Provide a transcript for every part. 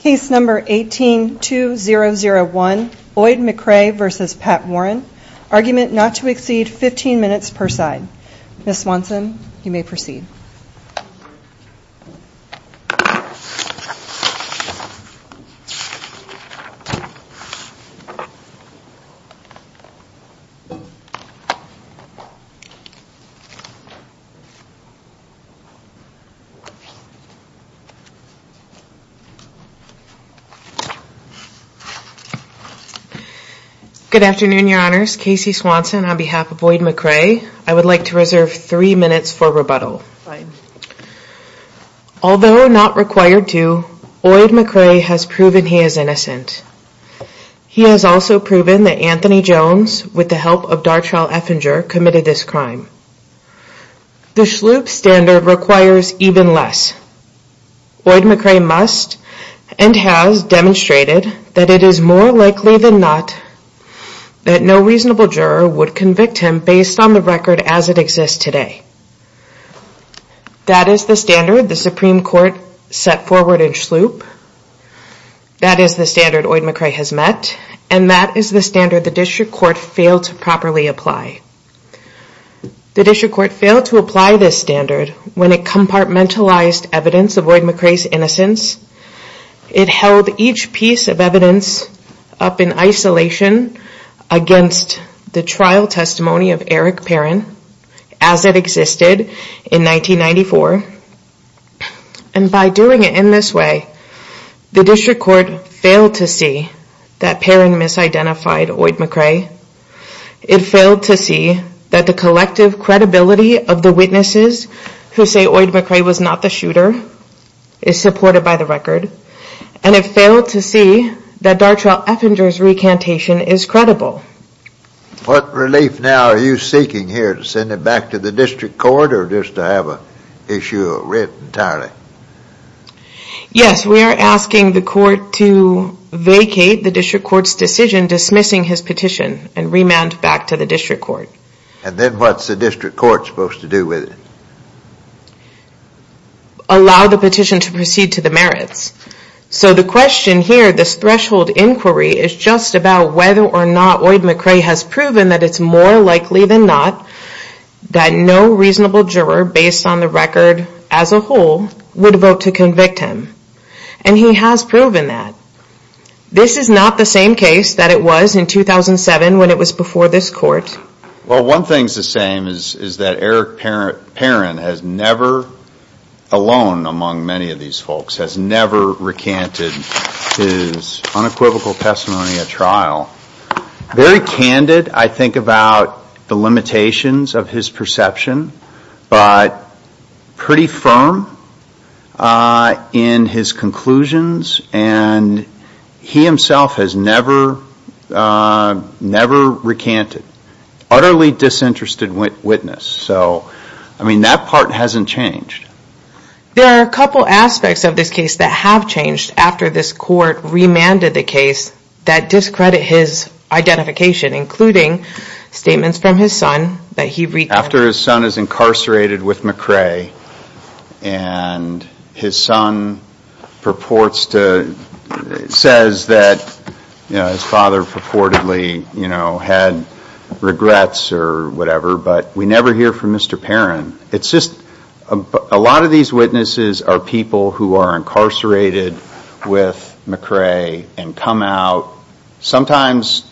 Case No. 18-2001, Oyd McCray v. Pat Warren. Argument not to exceed 15 minutes per side. Ms. Swanson, you may proceed. Good afternoon, Your Honors. Casey Swanson on behalf of Oyd McCray. I would like to reserve three minutes for rebuttal. Although not required to, Oyd McCray has proven he is innocent. He has also proven that Anthony Jones, with the help of Darchelle Effinger, committed this crime. The Shloop standard requires even less. Oyd McCray must and has demonstrated that it is more likely than not that no reasonable juror would convict him based on the record as it exists today. That is the standard the Supreme Court set forward in Shloop. That is the standard Oyd McCray has met. And that is the standard the District Court failed to properly apply. The District Court failed to apply this standard when it compartmentalized evidence of Oyd McCray's innocence. It held each piece of evidence up in isolation against the trial testimony of Eric Perrin as it existed in 1994. And by doing it in this way, the District Court failed to see that Perrin misidentified Oyd McCray. It failed to see that the collective credibility of the witnesses who say Oyd McCray was not the shooter is supported by the record. And it failed to see that Darchelle Effinger's recantation is credible. What relief now are you seeking here to send it back to the District Court or just to have an issue of writ entirely? Yes, we are asking the Court to vacate the District Court's decision dismissing his petition and remand back to the District Court. And then what's the District Court supposed to do with it? Allow the petition to proceed to the merits. So the question here, this threshold inquiry, is just about whether or not Oyd McCray has proven that it's more likely than not that no reasonable juror based on the record as a whole would vote to convict him. And he has proven that. This is not the same case that it was in 2007 when it was before this Court. Well, one thing's the same is that Eric Perrin has never, alone among many of these folks, has never recanted his unequivocal testimony at trial. Very candid, I think, about the limitations of his perception, but pretty firm in his conclusions. And he himself has never recanted. Utterly disinterested witness. So, I mean, that part hasn't changed. There are a couple aspects of this case that have changed after this Court remanded the case that discredit his identification, including statements from his son that he recanted. After his son is incarcerated with McCray and his son says that his father purportedly had regrets or whatever, but we never hear from Mr. Perrin. A lot of these witnesses are people who are incarcerated with McCray and come out, sometimes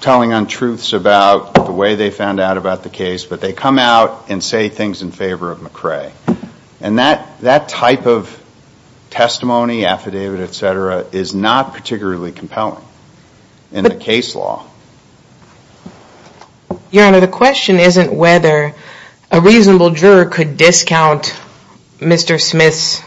telling untruths about the way they found out about the case, but they come out and say things in favor of McCray. And that type of testimony, affidavit, et cetera, is not particularly compelling in the case law. Your Honor, the question isn't whether a reasonable juror could discount Mr. Smith's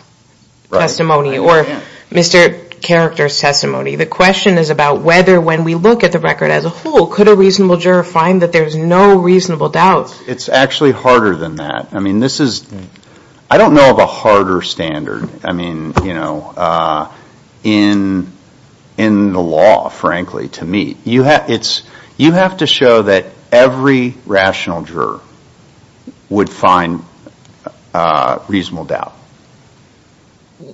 testimony or Mr. Character's testimony. The question is about whether when we look at the record as a whole, could a reasonable juror find that there's no reasonable doubt? It's actually harder than that. I mean, this is, I don't know of a harder standard, I mean, you know, in the law, frankly, to meet. You have to show that every rational juror would find reasonable doubt.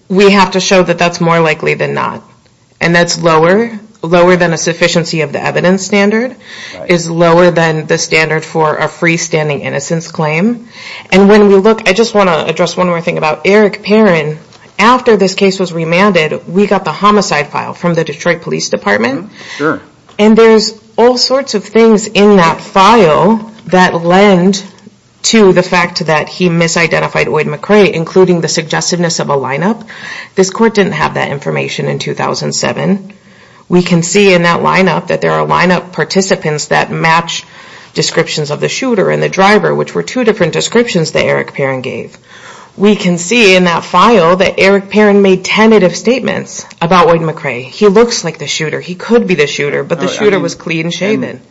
We have to show that that's more likely than not. And that's lower, lower than a sufficiency of the evidence standard, is lower than the standard for a freestanding innocence claim. And when we look, I just want to address one more thing about Eric Perrin. After this case was remanded, we got the homicide file from the Detroit Police Department. And there's all sorts of things in that file that lend to the fact that he misidentified Oid McRae, including the suggestiveness of a lineup. This court didn't have that information in 2007. We can see in that lineup that there are lineup participants that match descriptions of the shooter and the driver, which were two different descriptions that Eric Perrin gave. We can see in that file that Eric Perrin made tentative statements about Oid McRae. He looks like the shooter. He could be the shooter, but the shooter was clean-shaven.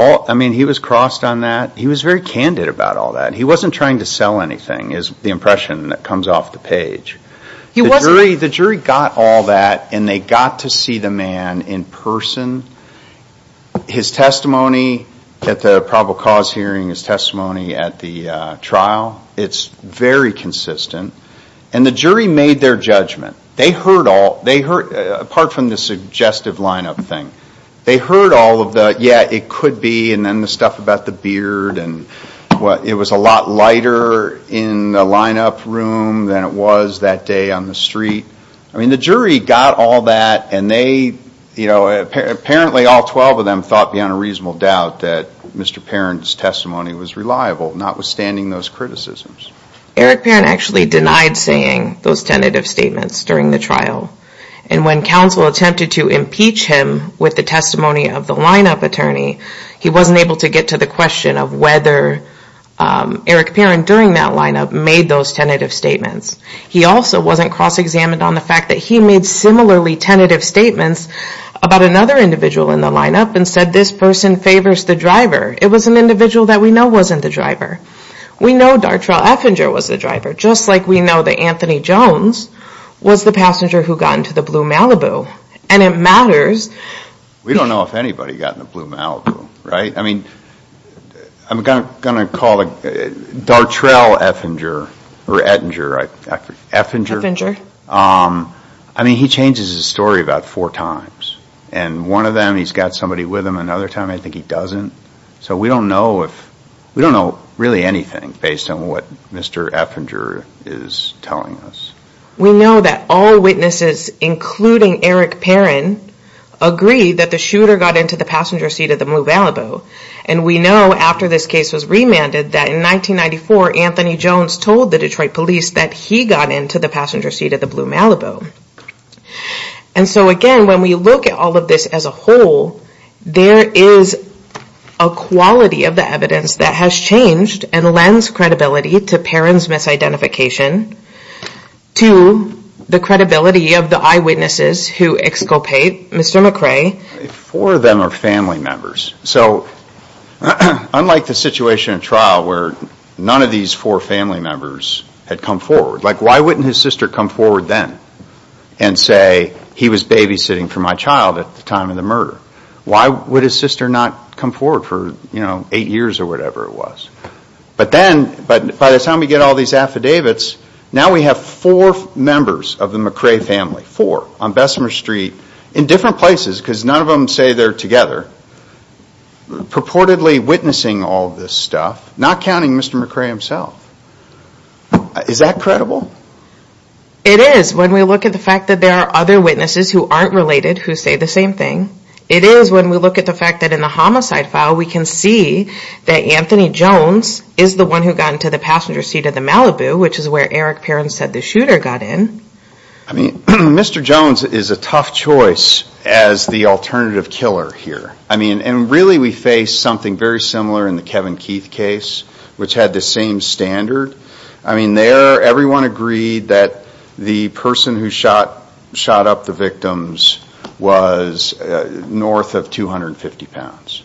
I mean, he was crossed on that. He was very candid about all that. He wasn't trying to sell anything, is the impression that comes off the page. The jury got all that, and they got to see the man in person. His testimony at the probable cause hearing, his testimony at the trial, it's very consistent. And the jury made their judgment. Apart from the suggestive lineup thing, they heard all of the, yeah, it could be, and then the stuff about the beard, and it was a lot lighter in the lineup room than it was that day on the street. I mean, the jury got all that, and apparently all 12 of them thought beyond a reasonable doubt that Mr. Perrin's testimony was reliable, notwithstanding those criticisms. Eric Perrin actually denied saying those tentative statements during the trial. And when counsel attempted to impeach him with the testimony of the lineup attorney, he wasn't able to get to the question of whether Eric Perrin during that lineup made those tentative statements. He also wasn't cross-examined on the fact that he made similarly tentative statements about another individual in the lineup and said this person favors the driver. It was an individual that we know wasn't the driver. We know Dartrell Effinger was the driver, just like we know that Anthony Jones was the passenger who got into the Blue Malibu, and it matters. We don't know if anybody got in the Blue Malibu, right? I mean, I'm going to call Dartrell Effinger, or Ettinger, Effinger. I mean, he changes his story about four times, and one of them he's got somebody with him, and another time I think he doesn't. So we don't know really anything based on what Mr. Effinger is telling us. We know that all witnesses, including Eric Perrin, agree that the shooter got into the passenger seat of the Blue Malibu. And we know after this case was remanded that in 1994, Anthony Jones told the Detroit police that he got into the passenger seat of the Blue Malibu. And so again, when we look at all of this as a whole, there is a quality of the evidence that has changed and lends credibility to Perrin's misidentification to the credibility of the eyewitnesses who exculpate Mr. McRae. Four of them are family members. So unlike the situation in trial where none of these four family members had come forward, like why wouldn't his sister come forward then and say he was babysitting for my child at the time of the murder? Why would his sister not come forward for eight years or whatever it was? But then, by the time we get all these affidavits, now we have four members of the McRae family, four, on Bessemer Street, in different places because none of them say they're together, purportedly witnessing all of this stuff, not counting Mr. McRae himself. Is that credible? It is when we look at the fact that there are other witnesses who aren't related who say the same thing. It is when we look at the fact that in the homicide file, we can see that Anthony Jones is the one who got into the passenger seat of the Malibu, which is where Eric Perrin said the shooter got in. I mean, Mr. Jones is a tough choice as the alternative killer here. I mean, and really we face something very similar in the Kevin Keith case, which had the same standard. I mean, there everyone agreed that the person who shot up the victims was north of 250 pounds.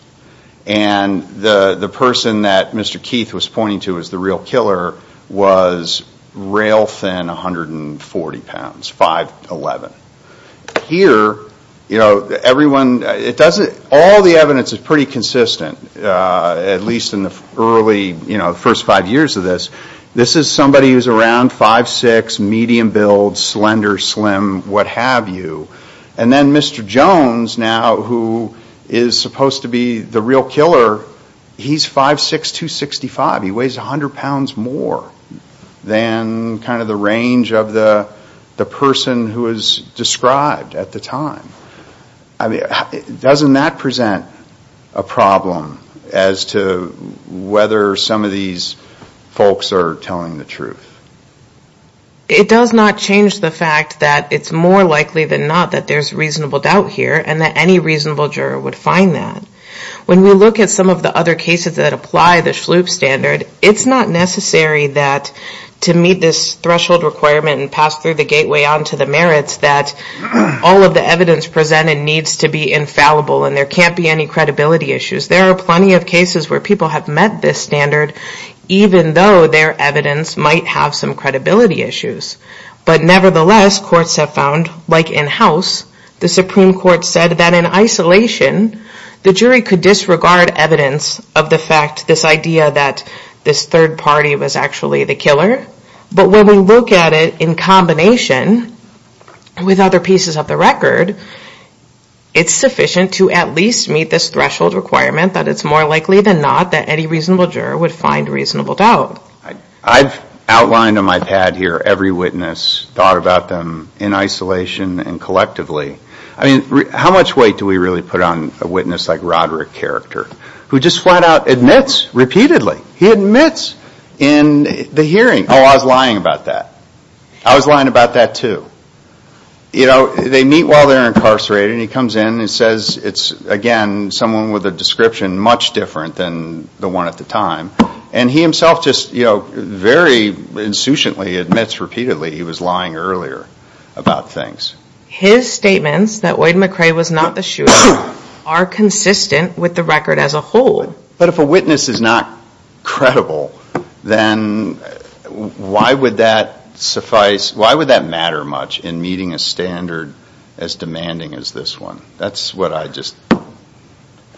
And the person that Mr. Keith was pointing to as the real killer was rail-thin 140 pounds, 5'11". Here, all the evidence is pretty consistent, at least in the early first five years of this. This is somebody who's around 5'6", medium build, slender, slim, what have you. And then Mr. Jones now, who is supposed to be the real killer, he's 5'6", 265. He weighs 100 pounds more than kind of the range of the person who was described at the time. I mean, doesn't that present a problem as to whether some of these folks are telling the truth? It does not change the fact that it's more likely than not that there's reasonable doubt here and that any reasonable juror would find that. When we look at some of the other cases that apply the Schlup standard, it's not necessary that to meet this threshold requirement and pass through the gateway onto the merits that all of the evidence presented needs to be infallible and there can't be any credibility issues. There are plenty of cases where people have met this standard, even though their evidence might have some credibility issues. But nevertheless, courts have found, like in House, the Supreme Court said that in isolation, the jury could disregard evidence of the fact, this idea that this third party was actually the killer. But when we look at it in combination with other pieces of the record, it's sufficient to at least meet this threshold requirement that it's more likely than not that any reasonable juror would find reasonable doubt. I've outlined on my pad here every witness, thought about them in isolation and collectively. I mean, how much weight do we really put on a witness like Roderick Character, who just flat out admits repeatedly. He admits in the hearing, oh, I was lying about that. I was lying about that, too. You know, they meet while they're incarcerated and he comes in and says it's, again, someone with a description much different than the one at the time. And he himself just, you know, very insouciantly admits repeatedly he was lying earlier about things. His statements that Oid McRae was not the shooter are consistent with the record as a whole. But if a witness is not credible, then why would that suffice, why would that matter much in meeting a standard as demanding as this one? That's what I just.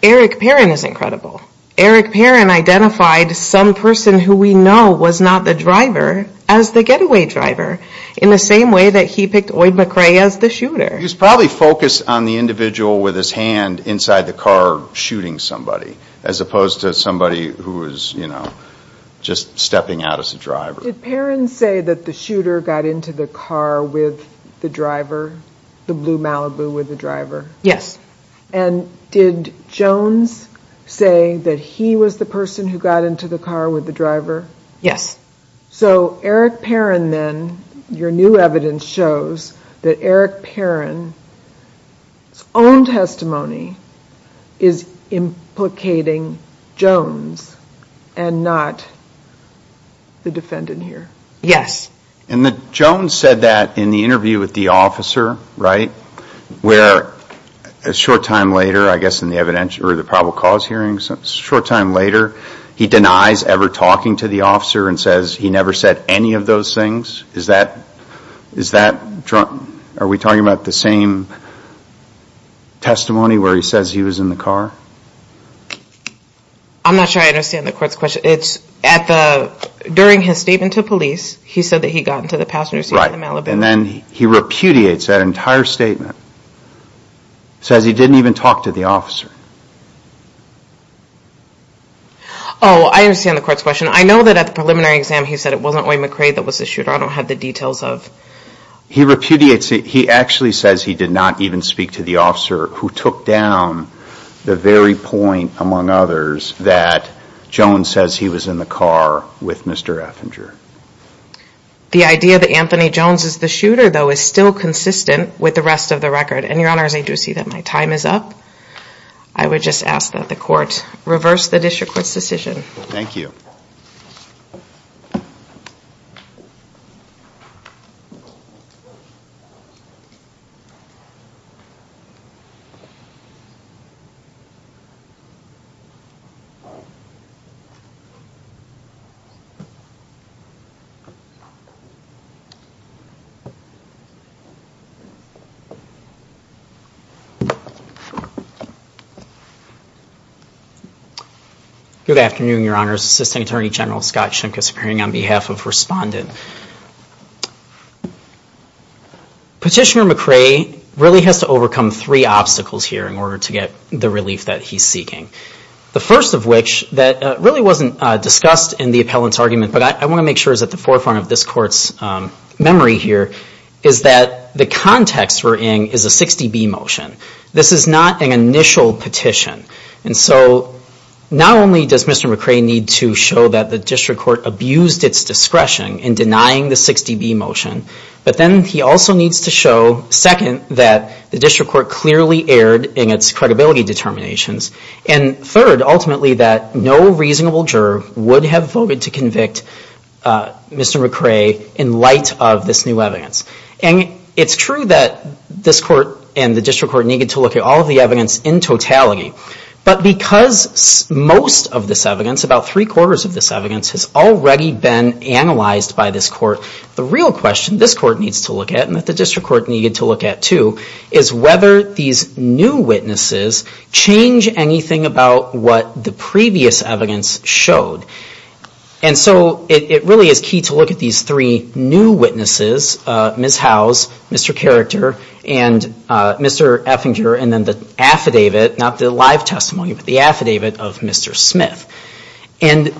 Eric Perrin is incredible. Eric Perrin identified some person who we know was not the driver as the getaway driver. In the same way that he picked Oid McRae as the shooter. He was probably focused on the individual with his hand inside the car shooting somebody, as opposed to somebody who was, you know, just stepping out as a driver. Did Perrin say that the shooter got into the car with the driver, the blue Malibu with the driver? Yes. And did Jones say that he was the person who got into the car with the driver? Yes. So Eric Perrin then, your new evidence shows that Eric Perrin's own testimony is implicating Jones and not the defendant here. Yes. And Jones said that in the interview with the officer, right? Where a short time later, I guess in the evidence or the probable cause hearings, a short time later, he denies ever talking to the officer and says he never said any of those things? Is that, are we talking about the same testimony where he says he was in the car? I'm not sure I understand the court's question. It's at the, during his statement to police, he said that he got into the passenger seat of the Malibu. And then he repudiates that entire statement, says he didn't even talk to the officer. Oh, I understand the court's question. I know that at the preliminary exam, he said it wasn't William McRae that was the shooter. I don't have the details of. He repudiates it. He actually says he did not even speak to the officer who took down the very point, among others, that Jones says he was in the car with Mr. Effinger. The idea that Anthony Jones is the shooter, though, is still consistent with the rest of the record. And your honors, I do see that my time is up. I would just ask that the court reverse the district court's decision. Thank you. Good afternoon, your honors. Assistant Attorney General Scott Shimkus appearing on behalf of respondent. Petitioner McRae really has to overcome three obstacles here in order to get the relief that he's seeking. The first of which, that really wasn't discussed in the appellant's argument, but I want to make sure is at the forefront of this court's memory here, is that the context we're in is a 60B motion. This is not an initial petition. And so not only does Mr. McRae need to show that the district court abused its discretion in denying the 60B motion, but then he also needs to show, second, that the district court clearly erred in its credibility determinations and, third, ultimately that no reasonable juror would have voted to convict Mr. McRae in light of this new evidence. And it's true that this court and the district court needed to look at all of the evidence in totality. But because most of this evidence, about three-quarters of this evidence, has already been analyzed by this court, the real question this court needs to look at and that the district court needed to look at, too, is whether these new witnesses change anything about what the previous evidence showed. And so it really is key to look at these three new witnesses, Ms. Howes, Mr. Carrector, and Mr. Effinger, and then the affidavit, not the live testimony, but the affidavit of Mr. Smith. And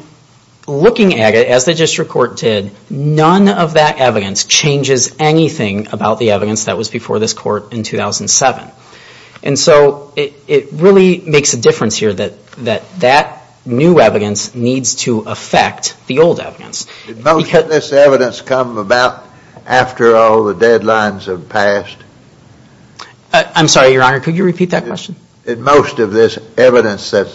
looking at it, as the district court did, none of that evidence changes anything about the evidence that was before this court in 2007. And so it really makes a difference here that that new evidence needs to affect the old evidence. Did most of this evidence come about after all the deadlines have passed? I'm sorry, Your Honor, could you repeat that question? Did most of this evidence that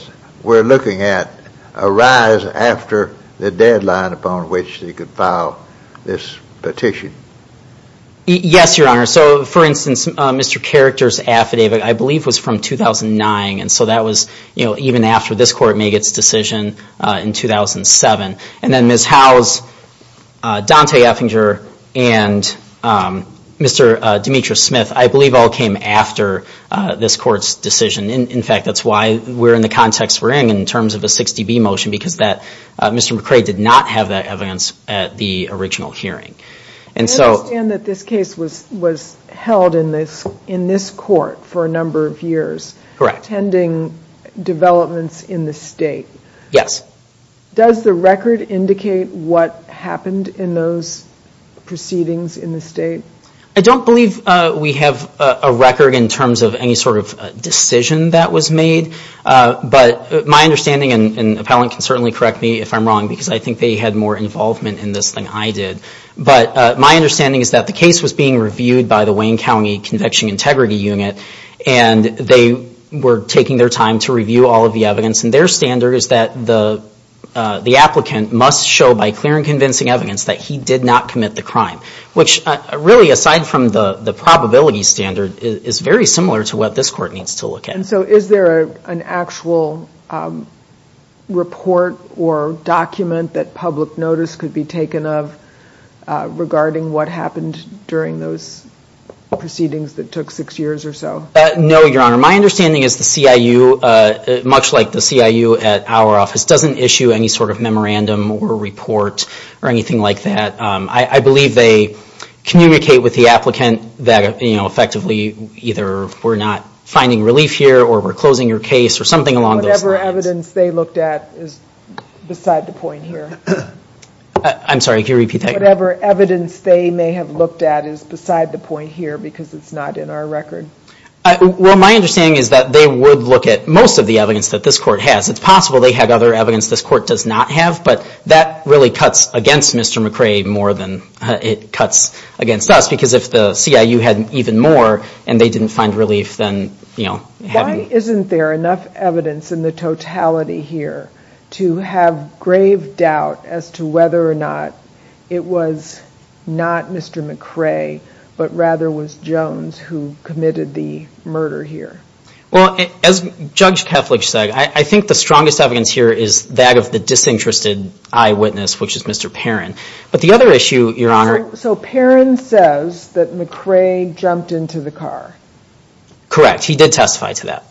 we're looking at arise after the deadline upon which they could file this petition? Yes, Your Honor. So, for instance, Mr. Carrector's affidavit, I believe, was from 2009, and so that was even after this court made its decision in 2007. And then Ms. Howes, Dante Effinger, and Mr. Demetra Smith, I believe all came after this court's decision. In fact, that's why we're in the context we're in, in terms of a 60B motion, because Mr. McCrae did not have that evidence at the original hearing. I understand that this case was held in this court for a number of years, attending developments in the state. Yes. Does the record indicate what happened in those proceedings in the state? I don't believe we have a record in terms of any sort of decision that was made, but my understanding, and an appellant can certainly correct me if I'm wrong, because I think they had more involvement in this than I did, but my understanding is that the case was being reviewed by the Wayne County Convection Integrity Unit, and they were taking their time to review all of the evidence, and their standard is that the applicant must show by clear and convincing evidence that he did not commit the crime, which really, aside from the probability standard, is very similar to what this court needs to look at. And so is there an actual report or document that public notice could be taken of regarding what happened during those proceedings that took six years or so? No, Your Honor. My understanding is the CIU, much like the CIU at our office, doesn't issue any sort of memorandum or report or anything like that. I believe they communicate with the applicant that, you know, effectively either we're not finding relief here or we're closing your case or something along those lines. Whatever evidence they looked at is beside the point here. I'm sorry, can you repeat that? Whatever evidence they may have looked at is beside the point here because it's not in our record. Well, my understanding is that they would look at most of the evidence that this court has. It's possible they had other evidence this court does not have, but that really cuts against Mr. McRae more than it cuts against us, because if the CIU had even more and they didn't find relief, then, you know. Why isn't there enough evidence in the totality here to have grave doubt as to whether or not it was not Mr. McRae, but rather was Jones who committed the murder here? Well, as Judge Keflich said, I think the strongest evidence here is that of the disinterested eyewitness, which is Mr. Perrin. But the other issue, Your Honor. So Perrin says that McRae jumped into the car. Correct. He did testify to that.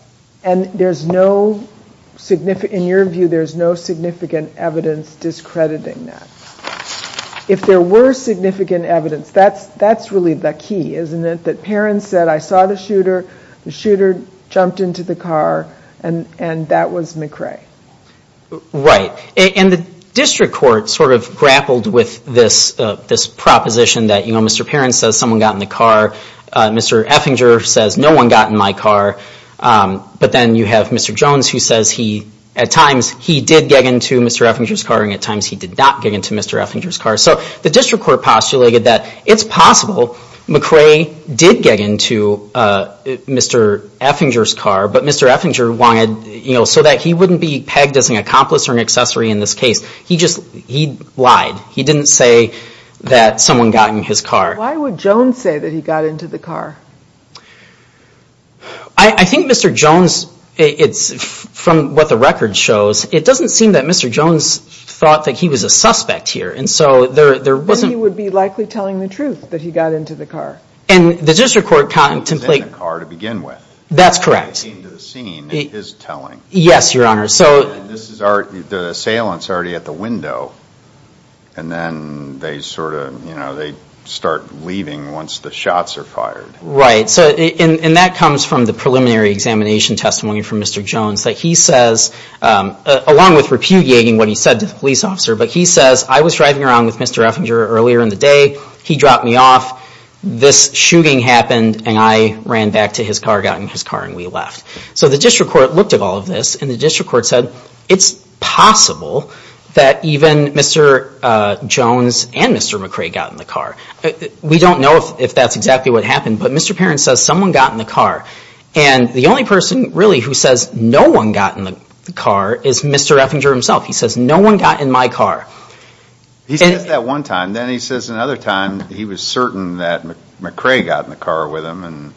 And there's no significant, in your view, there's no significant evidence discrediting that. If there were significant evidence, that's really the key, isn't it? That Perrin said, I saw the shooter. The shooter jumped into the car, and that was McRae. Right. And the district court sort of grappled with this proposition that, you know, Mr. Perrin says someone got in the car. Mr. Effinger says no one got in my car. But then you have Mr. Jones who says he, at times, he did get into Mr. Effinger's car, and at times he did not get into Mr. Effinger's car. So the district court postulated that it's possible McRae did get into Mr. Effinger's car, but Mr. Effinger wanted, you know, so that he wouldn't be pegged as an accomplice or an accessory in this case. He just lied. He didn't say that someone got in his car. Why would Jones say that he got into the car? I think Mr. Jones, from what the record shows, it doesn't seem that Mr. Jones thought that he was a suspect here. And so there wasn't- Then he would be likely telling the truth that he got into the car. And the district court contemplated- He was in the car to begin with. That's correct. He came to the scene in his telling. Yes, Your Honor. So- The assailant's already at the window, and then they sort of, you know, they start leaving once the shots are fired. Right. And that comes from the preliminary examination testimony from Mr. Jones, that he says, along with repudiating what he said to the police officer, but he says, I was driving around with Mr. Effinger earlier in the day, he dropped me off, this shooting happened, and I ran back to his car, got in his car, and we left. So the district court looked at all of this, and the district court said it's possible that even Mr. Jones and Mr. McRae got in the car. We don't know if that's exactly what happened, but Mr. Perrin says someone got in the car. And the only person, really, who says no one got in the car is Mr. Effinger himself. He says, no one got in my car. He says that one time. Then he says another time he was certain that McRae got in the car with him.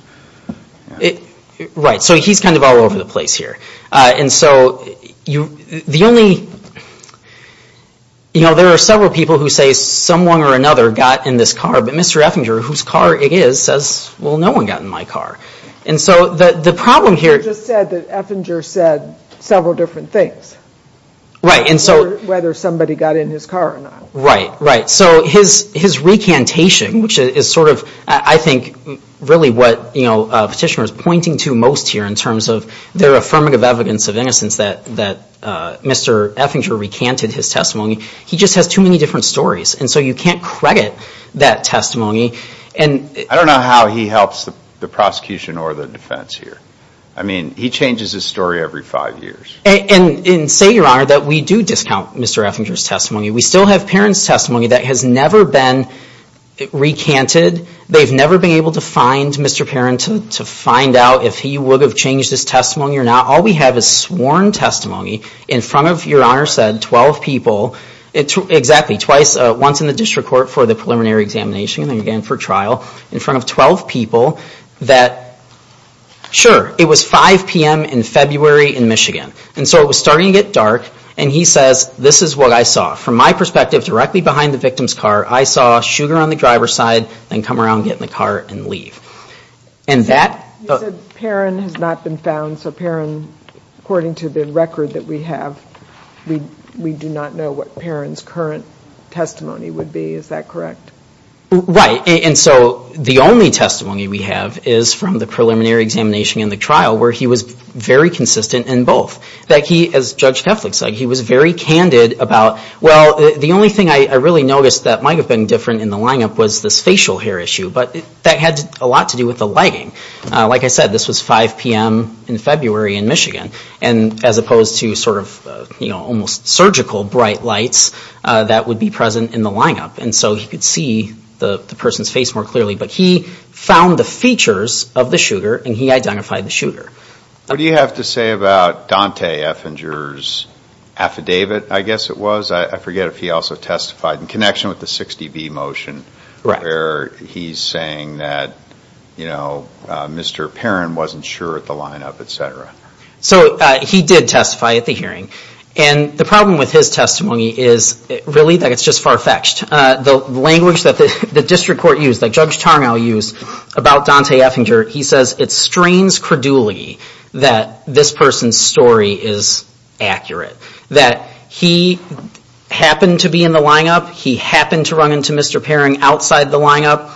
Right. So he's kind of all over the place here. And so the only, you know, there are several people who say someone or another got in this car, but Mr. Effinger, whose car it is, says, well, no one got in my car. And so the problem here- You just said that Effinger said several different things. Right. Whether somebody got in his car or not. Right, right. So his recantation, which is sort of, I think, really what a petitioner is pointing to most here in terms of their affirmative evidence of innocence that Mr. Effinger recanted his testimony, he just has too many different stories. And so you can't credit that testimony. I don't know how he helps the prosecution or the defense here. I mean, he changes his story every five years. And say, Your Honor, that we do discount Mr. Effinger's testimony. We still have Perrin's testimony that has never been recanted. They've never been able to find Mr. Perrin to find out if he would have changed his testimony or not. All we have is sworn testimony in front of, Your Honor said, 12 people, exactly twice, once in the district court for the preliminary examination and again for trial, in front of 12 people that, sure, it was 5 p.m. in February in Michigan. And so it was starting to get dark. And he says, This is what I saw. From my perspective, directly behind the victim's car, I saw Sugar on the driver's side then come around, get in the car, and leave. You said Perrin has not been found. So Perrin, according to the record that we have, we do not know what Perrin's current testimony would be. Is that correct? Right. And so the only testimony we have is from the preliminary examination and the trial where he was very consistent in both. That he, as Judge Teflik said, he was very candid about, Well, the only thing I really noticed that might have been different in the lineup was this facial hair issue. But that had a lot to do with the lighting. Like I said, this was 5 p.m. in February in Michigan. And as opposed to sort of, you know, almost surgical bright lights that would be present in the lineup. And so he could see the person's face more clearly. But he found the features of the Sugar and he identified the Sugar. What do you have to say about Dante Effinger's affidavit, I guess it was? I forget if he also testified in connection with the 60B motion. Right. Where he's saying that, you know, Mr. Perrin wasn't sure at the lineup, et cetera. So he did testify at the hearing. And the problem with his testimony is really that it's just far-fetched. The language that the district court used, that Judge Tarnow used about Dante Effinger, he says it strains credulity that this person's story is accurate. That he happened to be in the lineup. He happened to run into Mr. Perrin outside the lineup.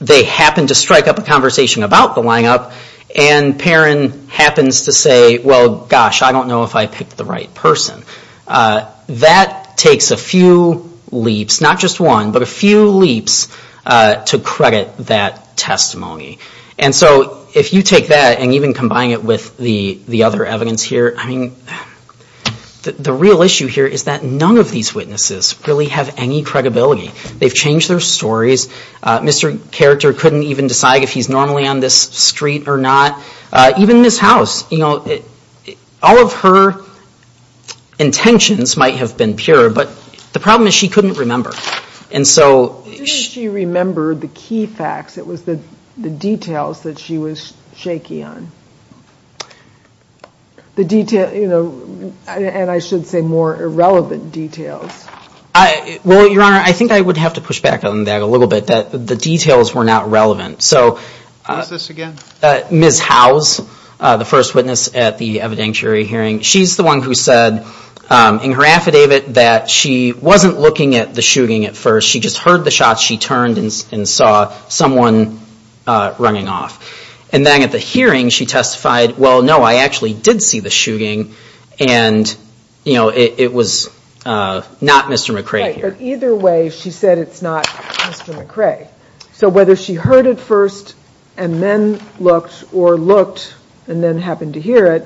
They happened to strike up a conversation about the lineup. And Perrin happens to say, well, gosh, I don't know if I picked the right person. That takes a few leaps, not just one, but a few leaps to credit that testimony. And so if you take that and even combine it with the other evidence here, I mean, the real issue here is that none of these witnesses really have any credibility. They've changed their stories. Mr. Character couldn't even decide if he's normally on this street or not. Even Ms. House, you know, all of her intentions might have been pure, but the problem is she couldn't remember. Didn't she remember the key facts? It was the details that she was shaky on. The detail, you know, and I should say more irrelevant details. Well, Your Honor, I think I would have to push back on that a little bit. The details were not relevant. Who is this again? Ms. House, the first witness at the evidentiary hearing. She's the one who said in her affidavit that she wasn't looking at the shooting at first. She just heard the shots. She turned and saw someone running off. And then at the hearing, she testified, well, no, I actually did see the shooting. And, you know, it was not Mr. McRae here. Right, but either way, she said it's not Mr. McRae. So whether she heard it first and then looked or looked and then happened to hear it,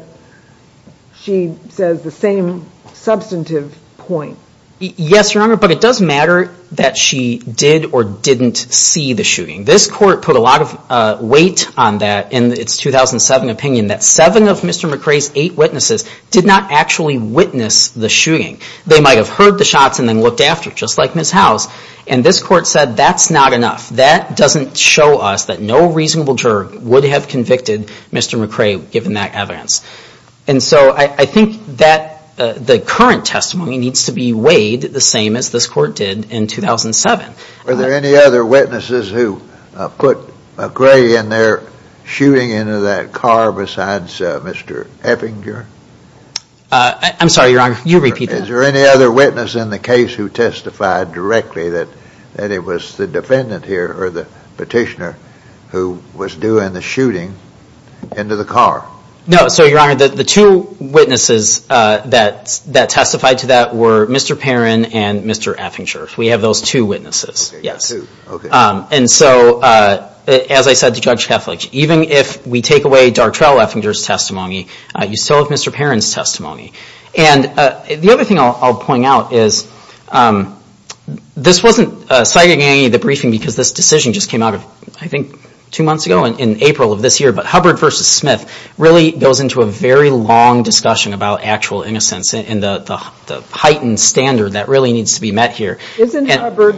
she says the same substantive point. Yes, Your Honor, but it does matter that she did or didn't see the shooting. This court put a lot of weight on that in its 2007 opinion that seven of Mr. McRae's eight witnesses did not actually witness the shooting. They might have heard the shots and then looked after, just like Ms. House. And this court said that's not enough. That doesn't show us that no reasonable juror would have convicted Mr. McRae given that evidence. And so I think that the current testimony needs to be weighed the same as this court did in 2007. Were there any other witnesses who put McRae in there shooting into that car besides Mr. Effinger? I'm sorry, Your Honor, you repeat that. Is there any other witness in the case who testified directly that it was the defendant here or the petitioner who was doing the shooting into the car? No, sir, Your Honor, the two witnesses that testified to that were Mr. Perrin and Mr. Effinger. We have those two witnesses, yes. And so, as I said to Judge Kethledge, even if we take away Dartrell Effinger's testimony, you still have Mr. Perrin's testimony. And the other thing I'll point out is this wasn't cited in any of the briefing because this decision just came out of, I think, two months ago in April of this year, but Hubbard v. Smith really goes into a very long discussion about actual innocence and the heightened standard that really needs to be met here. Isn't Hubbard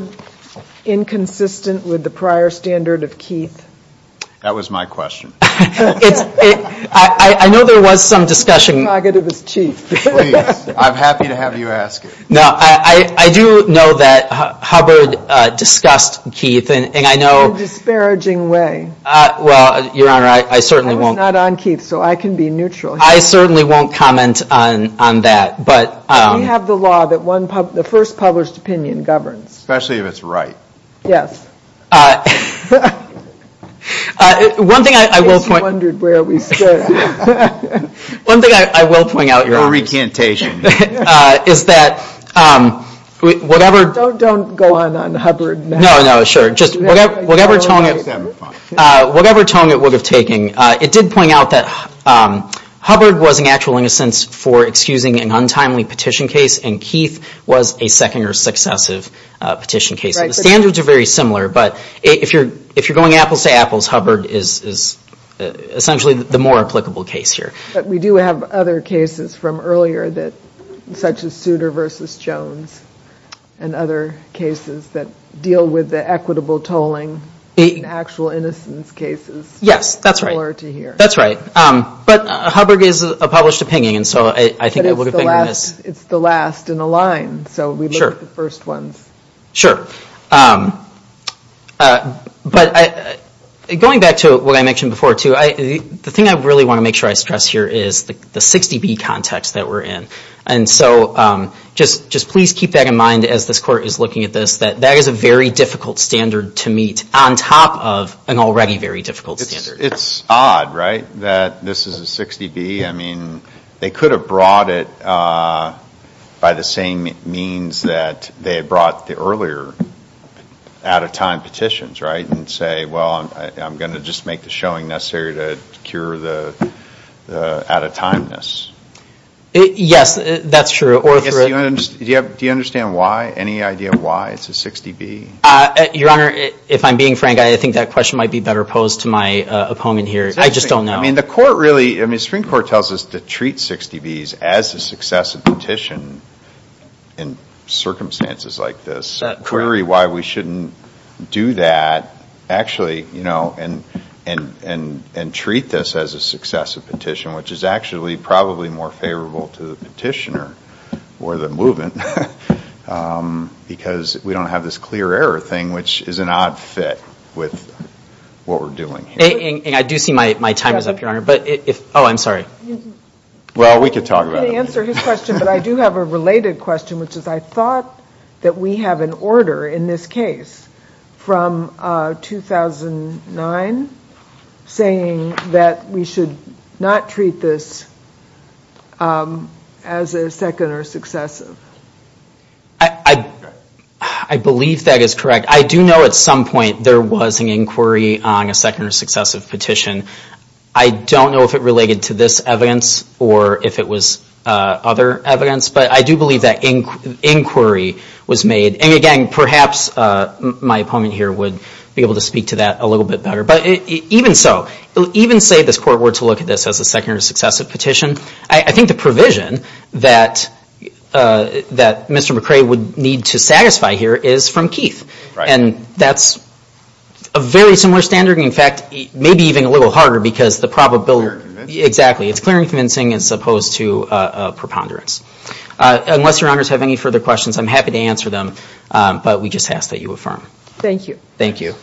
inconsistent with the prior standard of Keith? That was my question. I know there was some discussion. I'm happy to have you ask it. No, I do know that Hubbard discussed Keith. In a disparaging way. Well, Your Honor, I certainly won't. It was not on Keith, so I can be neutral. I certainly won't comment on that. We have the law that the first published opinion governs. Especially if it's right. Yes. In case you wondered where we stood. One thing I will point out, Your Honor, is that whatever. Don't go on Hubbard. No, no, sure. Whatever tone it would have taken. It did point out that Hubbard was in actual innocence for excusing an untimely petition case and Keith was a second or successive petition case. The standards are very similar, but if you're going apples to apples, Hubbard is essentially the more applicable case here. But we do have other cases from earlier such as Souter v. Jones and other cases that deal with the equitable tolling in actual innocence cases. Yes, that's right. That's right. But Hubbard is a published opinion. It's the last in a line, so we look at the first ones. Sure. But going back to what I mentioned before, too, the thing I really want to make sure I stress here is the 60B context that we're in. And so just please keep that in mind as this Court is looking at this, that that is a very difficult standard to meet on top of an already very difficult standard. It's odd, right, that this is a 60B. I mean, they could have brought it by the same means that they had brought the earlier out-of-time petitions, right, and say, well, I'm going to just make the showing necessary to cure the out-of-timeness. Yes, that's true. Do you understand why, any idea why it's a 60B? Your Honor, if I'm being frank, I think that question might be better posed to my opponent here. I just don't know. I mean, the Court really, I mean, Supreme Court tells us to treat 60Bs as a successive petition in circumstances like this, query why we shouldn't do that actually, you know, and treat this as a successive petition, which is actually probably more favorable to the petitioner or the movement because we don't have this clear error thing, which is an odd fit with what we're doing here. And I do see my time is up, Your Honor, but if, oh, I'm sorry. Well, we could talk about it. I can answer his question, but I do have a related question, which is I thought that we have an order in this case from 2009 saying that we should not treat this as a second or successive. I believe that is correct. I do know at some point there was an inquiry on a second or successive petition. I don't know if it related to this evidence or if it was other evidence, but I do believe that inquiry was made. And again, perhaps my opponent here would be able to speak to that a little bit better. But even so, even say this Court were to look at this as a second or successive petition, I think the provision that Mr. McRae would need to satisfy here is from Keith. And that's a very similar standard. In fact, maybe even a little harder because the probability. Exactly. It's clear and convincing as opposed to preponderance. Unless Your Honors have any further questions, I'm happy to answer them, but we just ask that you affirm. Thank you. Thank you.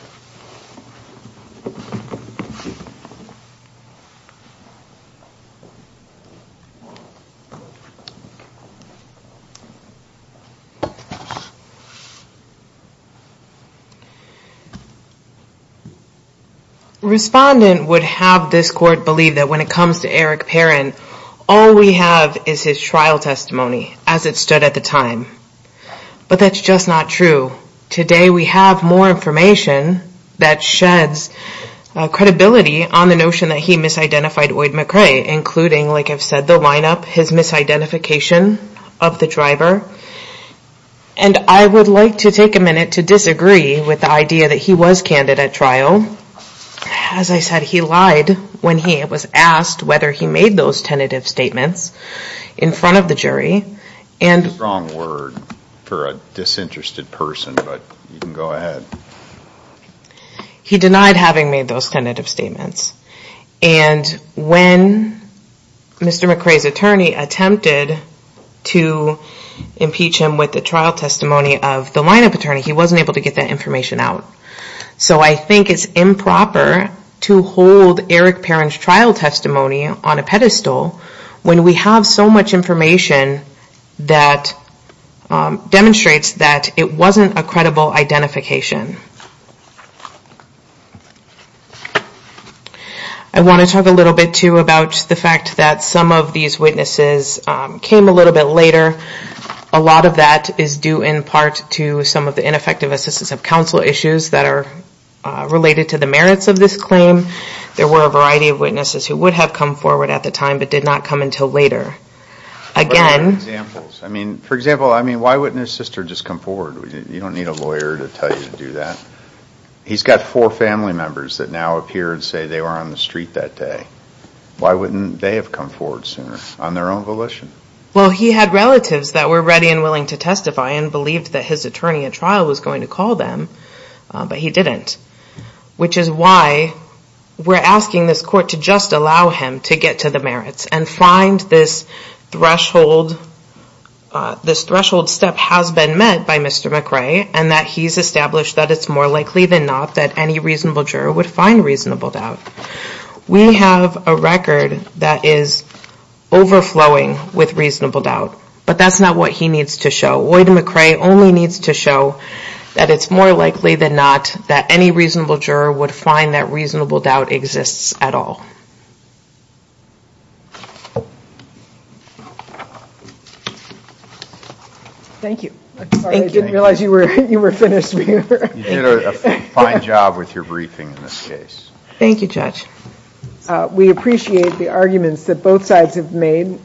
Respondent would have this Court believe that when it comes to Eric Perrin, all we have is his trial testimony as it stood at the time. But that's just not true. Today we have more information that sheds credibility on the notion that he misidentified Lloyd McRae, including, like I've said, the lineup, his misidentification of the driver. And I would like to take a minute to disagree with the idea that he was candid at trial. As I said, he lied when he was asked whether he made those tentative statements in front of the jury. That's a strong word for a disinterested person, but you can go ahead. He denied having made those tentative statements. And when Mr. McRae's attorney attempted to impeach him with the trial testimony of the lineup attorney, he wasn't able to get that information out. So I think it's improper to hold Eric Perrin's trial testimony on a pedestal when we have so much information that demonstrates that it wasn't a credible identification. I want to talk a little bit, too, about the fact that some of these witnesses came a little bit later. A lot of that is due in part to some of the ineffective assistance of counsel issues that are related to the merits of this claim. There were a variety of witnesses who would have come forward at the time but did not come until later. For example, why wouldn't his sister just come forward? You don't need a lawyer to tell you to do that. He's got four family members that now appear and say they were on the street that day. Why wouldn't they have come forward sooner on their own volition? Well, he had relatives that were ready and willing to testify and believed that his attorney at trial was going to call them, but he didn't. Which is why we're asking this court to just allow him to get to the merits and find this threshold step has been met by Mr. McRae and that he's established that it's more likely than not that any reasonable juror would find reasonable doubt. We have a record that is overflowing with reasonable doubt, but that's not what he needs to show. Oida McRae only needs to show that it's more likely than not that any reasonable juror would find that reasonable doubt exists at all. Thank you. I didn't realize you were finished. You did a fine job with your briefing in this case. Thank you, Judge. We appreciate the arguments that both sides have made.